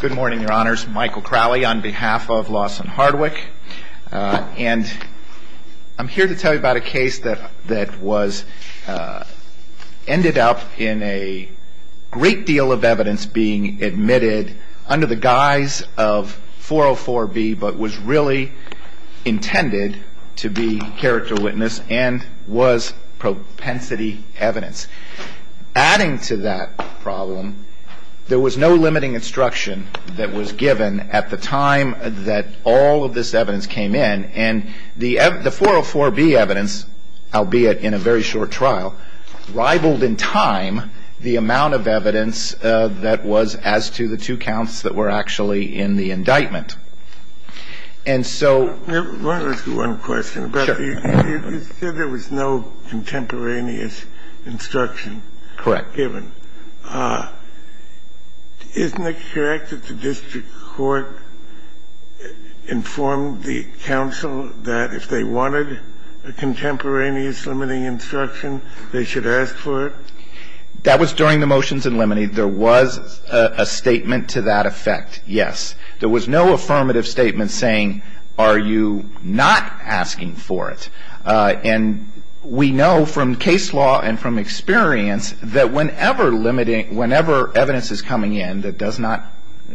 Good morning, your honors. Michael Crowley on behalf of Lawson Hardwick. And I'm here to tell you about a case that ended up in a great deal of evidence being admitted under the guise of 404B, but was really intended to be character witness and was propensity evidence. Adding to that problem, there was no limiting instruction that was given at the time that all of this evidence came in. And the 404B evidence, albeit in a very short trial, rivaled in time the amount of evidence that was as to the two counts that were actually in the indictment. And so we're going to ask you one question. You said there was no contemporaneous instruction given. Correct. Isn't it correct that the district court informed the counsel that if they wanted a contemporaneous limiting instruction, they should ask for it? That was during the motions in limine. There was a statement to that effect, yes. There was no affirmative statement saying, are you not asking for it? And we know from case law and from experience that whenever limiting, whenever evidence is coming in that does not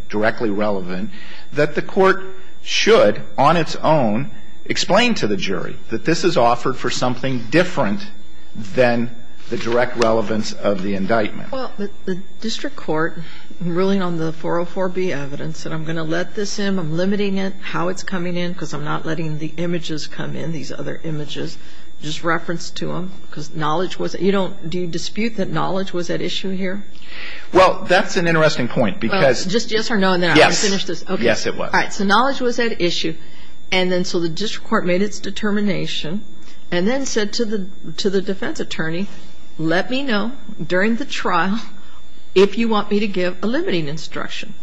directly relevant, that the court should, on its own, explain to the jury that this is offered for something different than the direct relevance of the indictment. Well, the district court, ruling on the 404B evidence, said I'm going to let this in. I'm limiting it, how it's coming in, because I'm not letting the images come in, these other images, just reference to them, because knowledge was at issue. Do you dispute that knowledge was at issue here? Well, that's an interesting point, because yes or no, and then I'm going to finish this. Yes. Yes, it was. All right. So knowledge was at issue. And then so the district court made its determination and then said to the defense attorney, let me know during the trial if you want me to give a limiting instruction.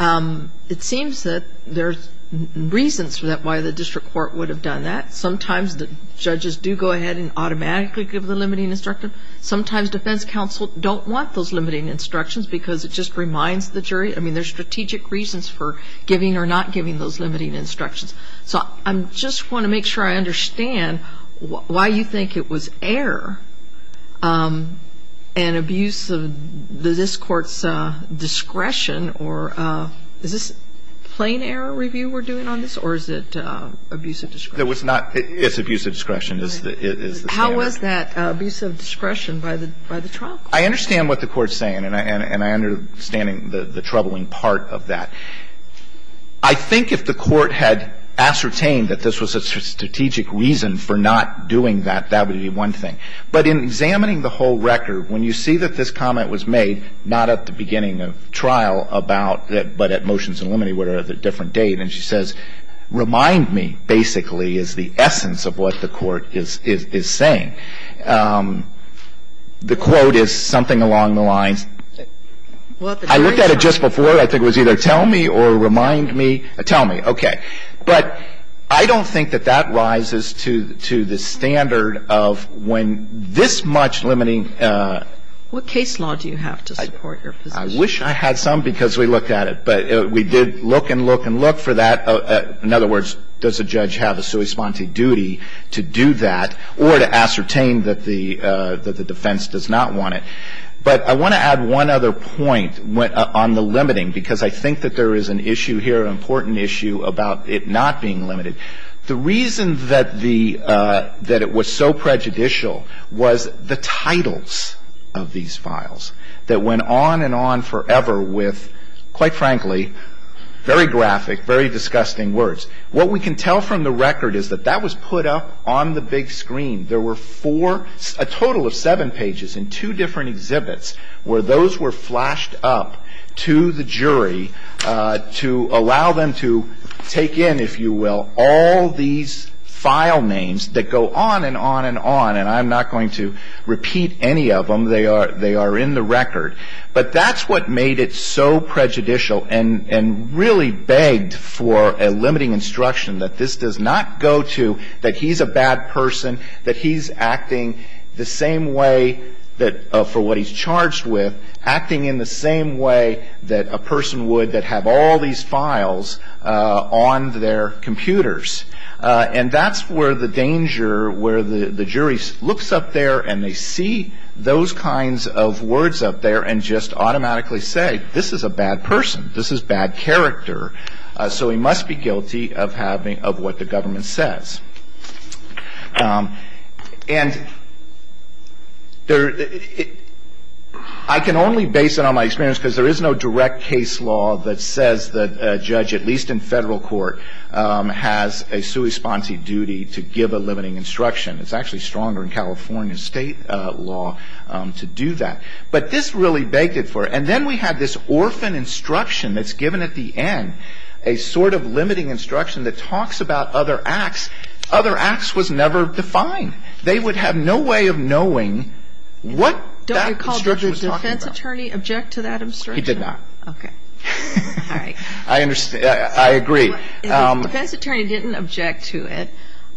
It seems that there's reasons for that, why the district court would have done that. Sometimes the judges do go ahead and automatically give the limiting instruction. Sometimes defense counsel don't want those limiting instructions, because it just reminds the jury. I mean, there's strategic reasons for giving or not giving those limiting instructions. So I just want to make sure I understand why you think it was error and abuse of this Court's discretion or is this plain error review we're doing on this or is it abuse of discretion? It was not. It's abuse of discretion is the standard. How was that abuse of discretion by the trial court? I understand what the Court's saying, and I understand the troubling part of that. I think if the Court had ascertained that this was a strategic reason for not doing that, that would be one thing. But in examining the whole record, when you see that this comment was made, not at the beginning of trial, about that, but at motions and limiting, whatever, at a different date, and she says, remind me, basically, is the essence of what the Court is saying. The quote is something along the lines that I looked at it just before. I think it was either tell me or remind me. Tell me. Okay. But I don't think that that rises to the standard of when this much limiting What case law do you have to support your position? I wish I had some because we looked at it. But we did look and look and look for that. In other words, does a judge have a sui sponte duty to do that or to ascertain that the defense does not want it? But I want to add one other point on the limiting because I think that there is an issue here, an important issue, about it not being limited. The reason that it was so prejudicial was the titles of these files that went on and on forever with, quite frankly, very graphic, very disgusting words. What we can tell from the record is that that was put up on the big screen. There were four, a total of seven pages in two different exhibits where those were flashed up to the jury to allow them to take in, if you will, all these file names that go on and on and on. And I'm not going to repeat any of them. They are in the record. But that's what made it so prejudicial and really begged for a limiting instruction that this does not go to that he's a bad person, that he's acting the same way that for what he's charged with, acting in the same way that a person would that have all these files on their computers. And that's where the danger, where the jury looks up there and they see those kinds of words up there and just automatically say, this is a bad person. This is bad character. So he must be guilty of what the government says. And I can only base it on my experience because there is no direct case law that says that a judge, at least in federal court, has a sui sponsi duty to give a limiting instruction. It's actually stronger in California state law to do that. But this really begged it for it. And then we have this orphan instruction that's given at the end, a sort of limiting instruction that talks about other acts. Other acts was never defined. They would have no way of knowing what that instruction was talking about. Don't recall did the defense attorney object to that instruction? He did not. Okay. All right. I agree. The defense attorney didn't object to it.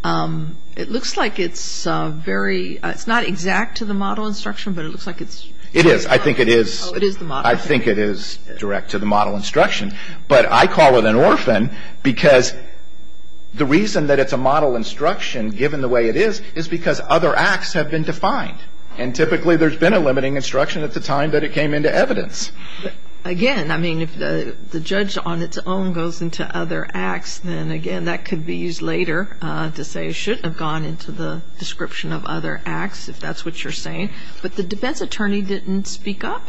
It looks like it's very, it's not exact to the model instruction, but it looks like it's It is. I think it is. I think it is direct to the model instruction. But I call it an orphan because the reason that it's a model instruction, given the way it is, is because other acts have been defined. And typically there's been a limiting instruction at the time that it came into evidence. Again, I mean, if the judge on its own goes into other acts, then, again, that could be used later to say it shouldn't have gone into the description of other acts, if that's what you're saying. But the defense attorney didn't speak up.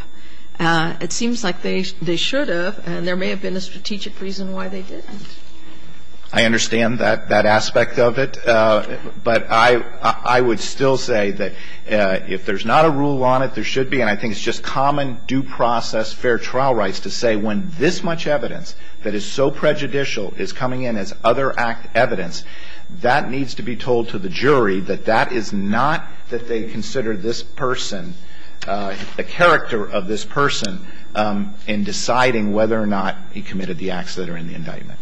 It seems like they should have, and there may have been a strategic reason why they didn't. I understand that aspect of it. But I would still say that if there's not a rule on it, there should be. And I think it's just common due process fair trial rights to say when this much evidence that is so prejudicial is coming in as other act evidence, that needs to be told to the jury that that is not that they consider this person, the character of this person, in deciding whether or not he committed the acts that are in the indictment.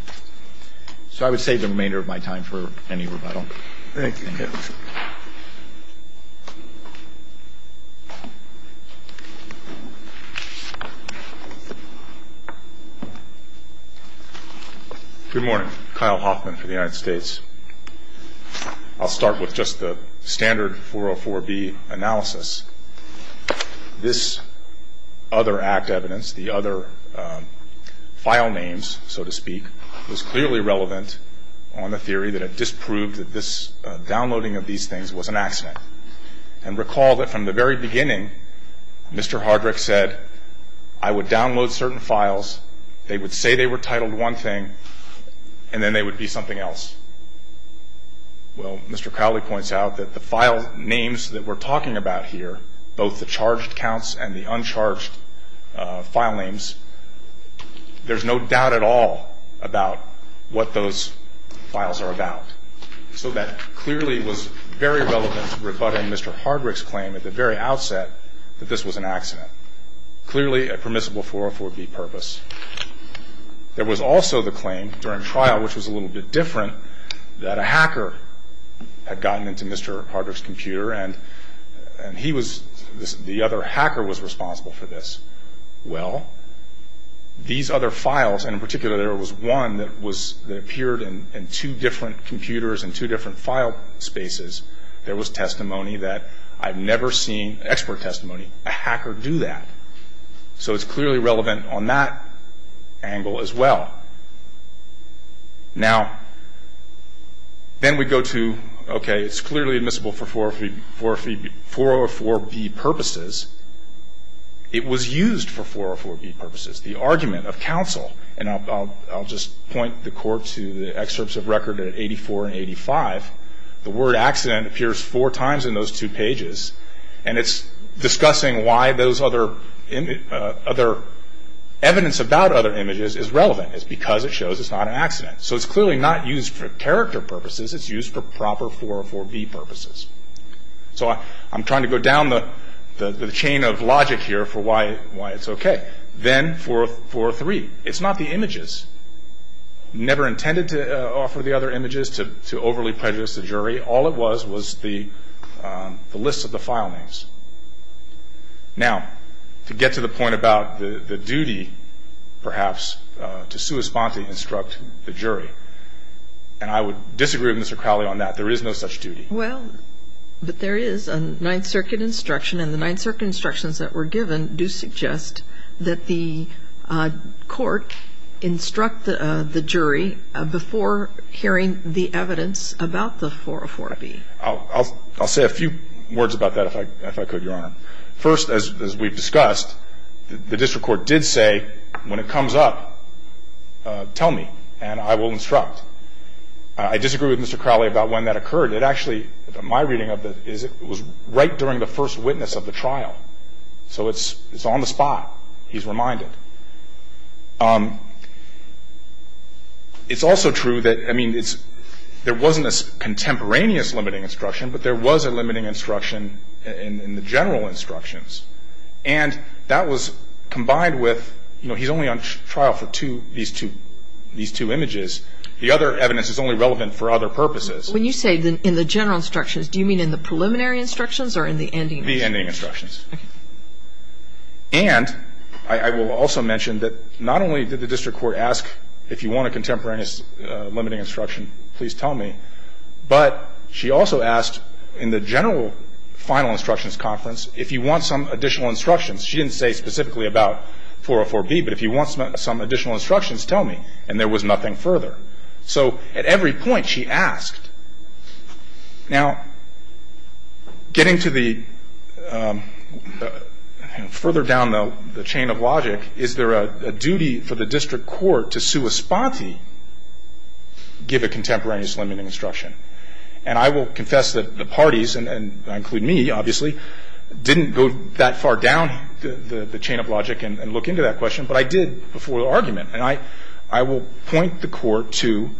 So I would save the remainder of my time for any rebuttal. Thank you. Good morning. I'm Kyle Hoffman for the United States. I'll start with just the standard 404B analysis. This other act evidence, the other file names, so to speak, was clearly relevant on the theory that it disproved that this downloading of these things was an accident. And recall that from the very beginning, Mr. Hardrick said, I would download certain files, they would say they were titled one thing, and then they would be something else. Well, Mr. Cowley points out that the file names that we're talking about here, both the charged counts and the uncharged file names, there's no doubt at all about what those files are about. So that clearly was very relevant to rebutting Mr. Hardrick's claim at the very outset that this was an accident. Clearly a permissible 404B purpose. There was also the claim during trial, which was a little bit different, that a hacker had gotten into Mr. Hardrick's computer and he was, the other hacker was responsible for this. Well, these other files, and in particular there was one that appeared in two different computers and two different file spaces, there was testimony that I've never seen, expert on that. So it's clearly relevant on that angle as well. Now, then we go to, okay, it's clearly admissible for 404B purposes. It was used for 404B purposes. The argument of counsel, and I'll just point the court to the excerpts of record at 84 and 85, the word accident appears four times in those two pages, and it's discussing why those other evidence about other images is relevant. It's because it shows it's not an accident. So it's clearly not used for character purposes. It's used for proper 404B purposes. So I'm trying to go down the chain of logic here for why it's okay. Then 403. It's not the images. Never intended to offer the other images to overly prejudice the jury. All it was was the list of the file names. Now, to get to the point about the duty, perhaps, to sua sponte, instruct the jury, and I would disagree with Mr. Crowley on that. There is no such duty. Well, but there is a Ninth Circuit instruction, and the Ninth Circuit instructions that were given do suggest that the court instruct the jury before hearing the evidence about the 404B. I'll say a few words about that, if I could, Your Honor. First, as we've discussed, the district court did say, when it comes up, tell me, and I will instruct. I disagree with Mr. Crowley about when that occurred. It actually, my reading of it is it was right during the first witness of the trial. So it's on the spot. He's reminded. It's also true that, I mean, there wasn't a contemporaneous limiting instruction, but there was a limiting instruction in the general instructions. And that was combined with, you know, he's only on trial for two, these two images. The other evidence is only relevant for other purposes. When you say in the general instructions, do you mean in the preliminary instructions or in the ending instructions? The ending instructions. Okay. And I will also mention that not only did the district court ask, if you want a contemporaneous limiting instruction, please tell me, but she also asked in the general final instructions conference, if you want some additional instructions. She didn't say specifically about 404B, but if you want some additional instructions, tell me. And there was nothing further. So at every point, she asked. Now, getting to the further down the chain of logic, is there a duty for the district court to sua sponte, give a contemporaneous limiting instruction? And I will confess that the parties, and I include me, obviously, didn't go that far down the chain of logic and look into that question, but I did before the argument. And I will point the court to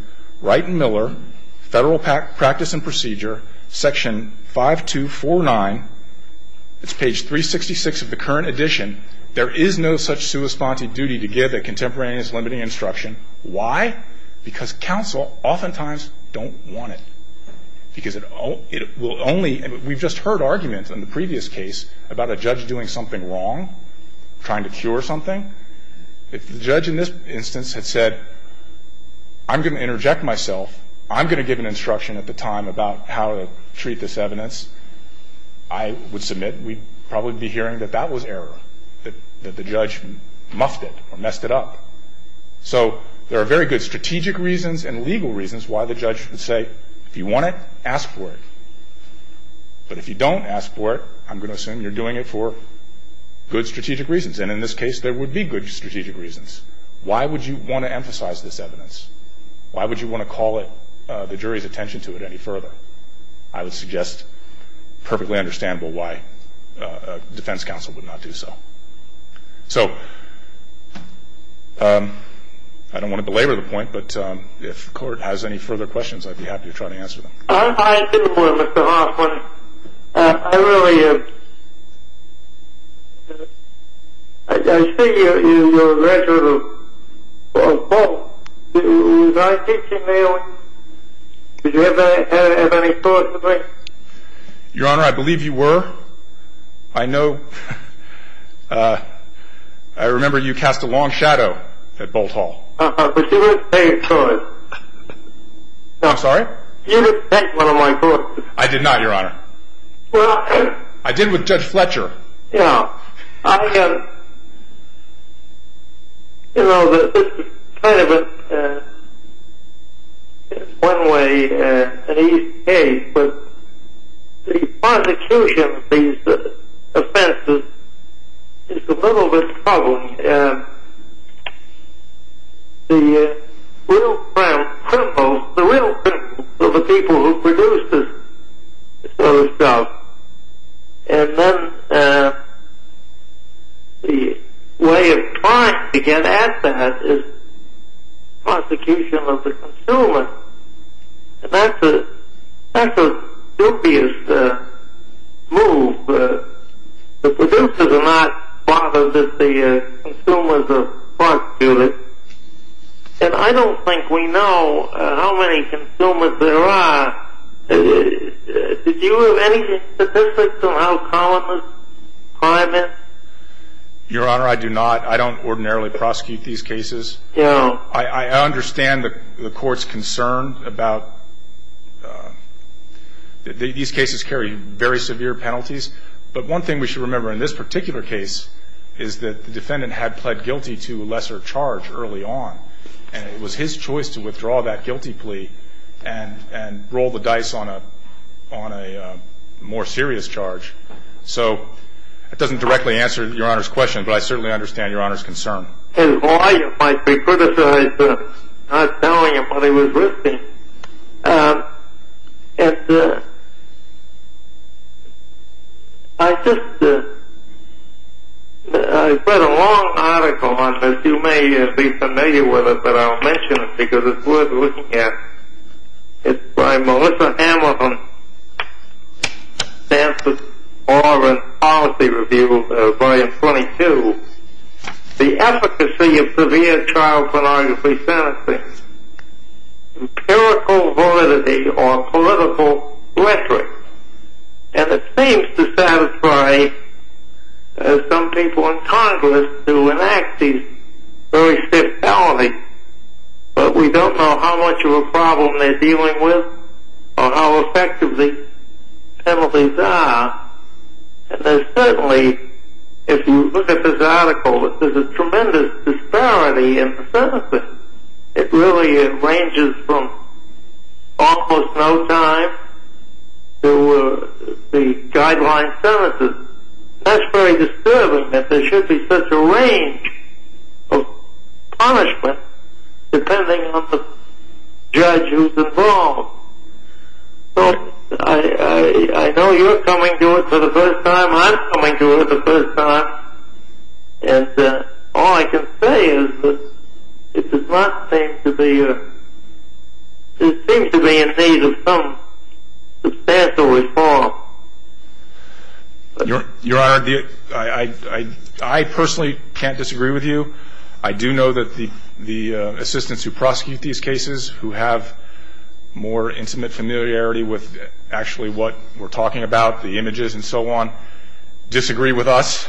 Wright and Miller, Federal Practice and Procedure, Section 5249. It's page 366 of the current edition. There is no such sua sponte duty to give a contemporaneous limiting instruction. Why? Because counsel oftentimes don't want it. Because it will only, and we've just heard arguments in the previous case about a judge doing something wrong, trying to cure something. If the judge in this instance had said, I'm going to interject myself, I'm going to give an instruction at the time about how to treat this evidence, I would submit we'd probably be hearing that that was error, that the judge muffed it or messed it up. So there are very good strategic reasons and legal reasons why the judge would say, if you want it, ask for it. But if you don't ask for it, I'm going to assume you're doing it for good strategic reasons. And in this case, there would be good strategic reasons. Why would you want to emphasize this evidence? Why would you want to call the jury's attention to it any further? I would suggest perfectly understandable why a defense counsel would not do so. So I don't want to belabor the point, but if the court has any further questions, I'd be happy to try to answer them. I didn't want to, Mr. Hoffman. I really am. I see you're a graduate of Boalt. Was I teaching there? Did you have any thought in the brain? Your Honor, I believe you were. I know. I remember you cast a long shadow at Boalt Hall. But you weren't paying for it. I'm sorry? You didn't take one of my books. I did not, Your Honor. I did with Judge Fletcher. Yeah. You know, this is kind of a one-way and easy case, but the prosecution of these offenses is a little bit troubling. The real criminals are the people who produce those drugs. And then the way of trying to get at that is prosecution of the consumer. And that's a dubious move. The producers are not bothered if the consumers are prosecuted. And I don't think we know how many consumers there are. Did you have any statistics on how common the crime is? Your Honor, I do not. I don't ordinarily prosecute these cases. I understand the Court's concern about these cases carry very severe penalties. But one thing we should remember in this particular case is that the defendant had pled guilty to a lesser charge early on, and it was his choice to withdraw that guilty plea and roll the dice on a more serious charge. So that doesn't directly answer Your Honor's question, but I certainly understand Your Honor's concern. His lawyer might be criticized for not telling him what he was risking. And I just read a long article on this. You may be familiar with it, but I'll mention it because it's worth looking at. It's by Melissa Hamilton. It stands for Law and Policy Review, Volume 22. The efficacy of severe child pornography sentencing. Empirical validity or political rhetoric. And it seems to satisfy some people in Congress to enact these very stiff penalties. But we don't know how much of a problem they're dealing with or how effective these penalties are. And there's certainly, if you look at this article, there's a tremendous disparity in the sentencing. It really ranges from almost no time to the guideline sentences. And that's very disturbing that there should be such a range of punishment depending on the judge who's involved. So I know you're coming to it for the first time. I'm coming to it for the first time. And all I can say is that it does not seem to be in need of some substantial reform. Your Honor, I personally can't disagree with you. I do know that the assistants who prosecute these cases, who have more intimate familiarity with actually what we're talking about, the images and so on, disagree with us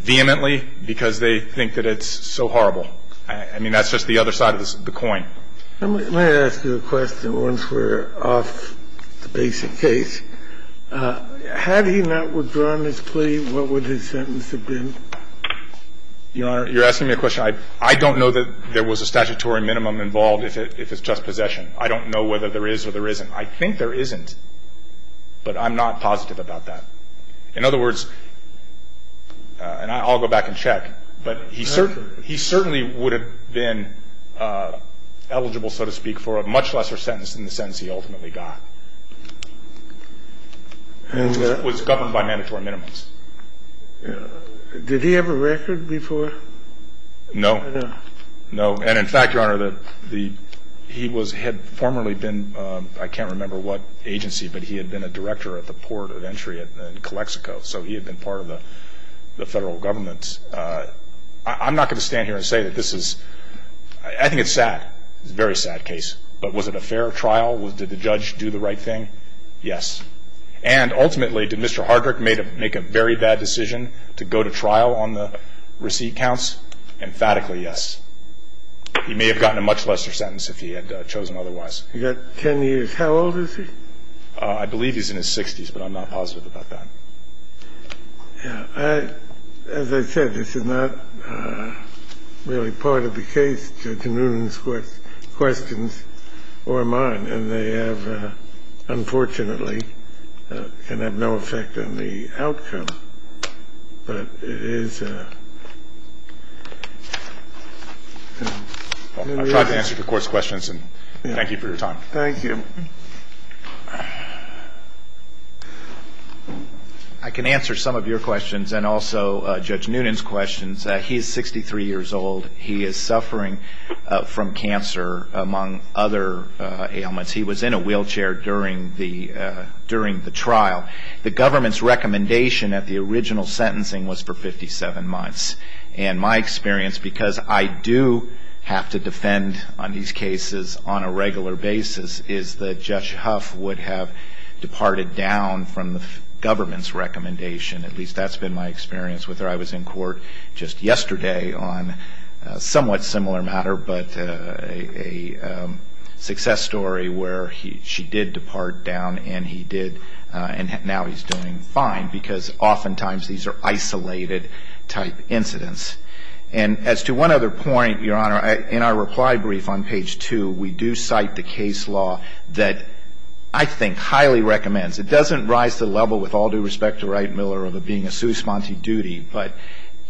vehemently because they think that it's so horrible. I mean, that's just the other side of the coin. Let me ask you a question once we're off the basic case. Had he not withdrawn his plea, what would his sentence have been, Your Honor? You're asking me a question. I don't know that there was a statutory minimum involved if it's just possession. I don't know whether there is or there isn't. I think there isn't, but I'm not positive about that. In other words, and I'll go back and check, but he certainly would have been eligible, so to speak, for a much lesser sentence than the sentence he ultimately got. It was governed by mandatory minimums. Did he have a record before? No. No. And, in fact, Your Honor, he had formerly been, I can't remember what agency, but he had been a director at the Port of Entry in Calexico, so he had been part of the federal government. I'm not going to stand here and say that this is – I think it's sad. It's a very sad case. But was it a fair trial? Did the judge do the right thing? Yes. And ultimately, did Mr. Hardrick make a very bad decision to go to trial on the receipt counts? Emphatically, yes. He may have gotten a much lesser sentence if he had chosen otherwise. He got 10 years. How old is he? I believe he's in his 60s, but I'm not positive about that. Yeah. As I said, this is not really part of the case, Judge Noonan's questions or mine, and they have, unfortunately, can have no effect on the outcome. But it is. I'll try to answer the Court's questions, and thank you for your time. Thank you. I can answer some of your questions and also Judge Noonan's questions. He is 63 years old. He is suffering from cancer, among other ailments. He was in a wheelchair during the trial. The government's recommendation at the original sentencing was for 57 months. And my experience, because I do have to defend on these cases on a regular basis, is that Judge Huff would have departed down from the government's recommendation. At least that's been my experience with her. Just yesterday on a somewhat similar matter, but a success story where she did depart down and he did, and now he's doing fine because oftentimes these are isolated-type incidents. And as to one other point, Your Honor, in our reply brief on page 2, we do cite the case law that I think highly recommends. It doesn't rise to the level, with all due respect to Wright Miller, of it being a sui sponte duty, but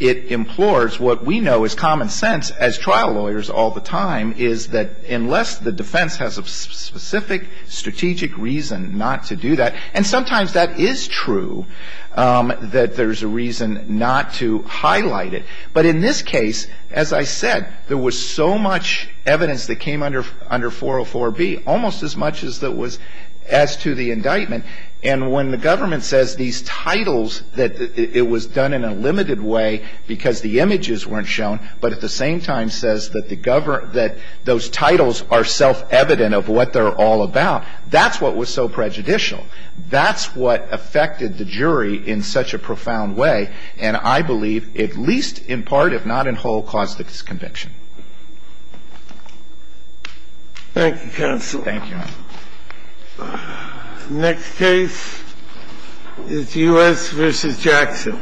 it implores what we know is common sense as trial lawyers all the time is that unless the defense has a specific strategic reason not to do that, and sometimes that is true, that there's a reason not to highlight it. But in this case, as I said, there was so much evidence that came under 404B, almost as much as to the indictment. And when the government says these titles that it was done in a limited way because the images weren't shown, but at the same time says that the government that those titles are self-evident of what they're all about, that's what was so prejudicial. That's what affected the jury in such a profound way, and I believe, at least in part, if not in whole, caused the disconviction. Thank you, counsel. Thank you, Your Honor. Next case is U.S. v. Jackson.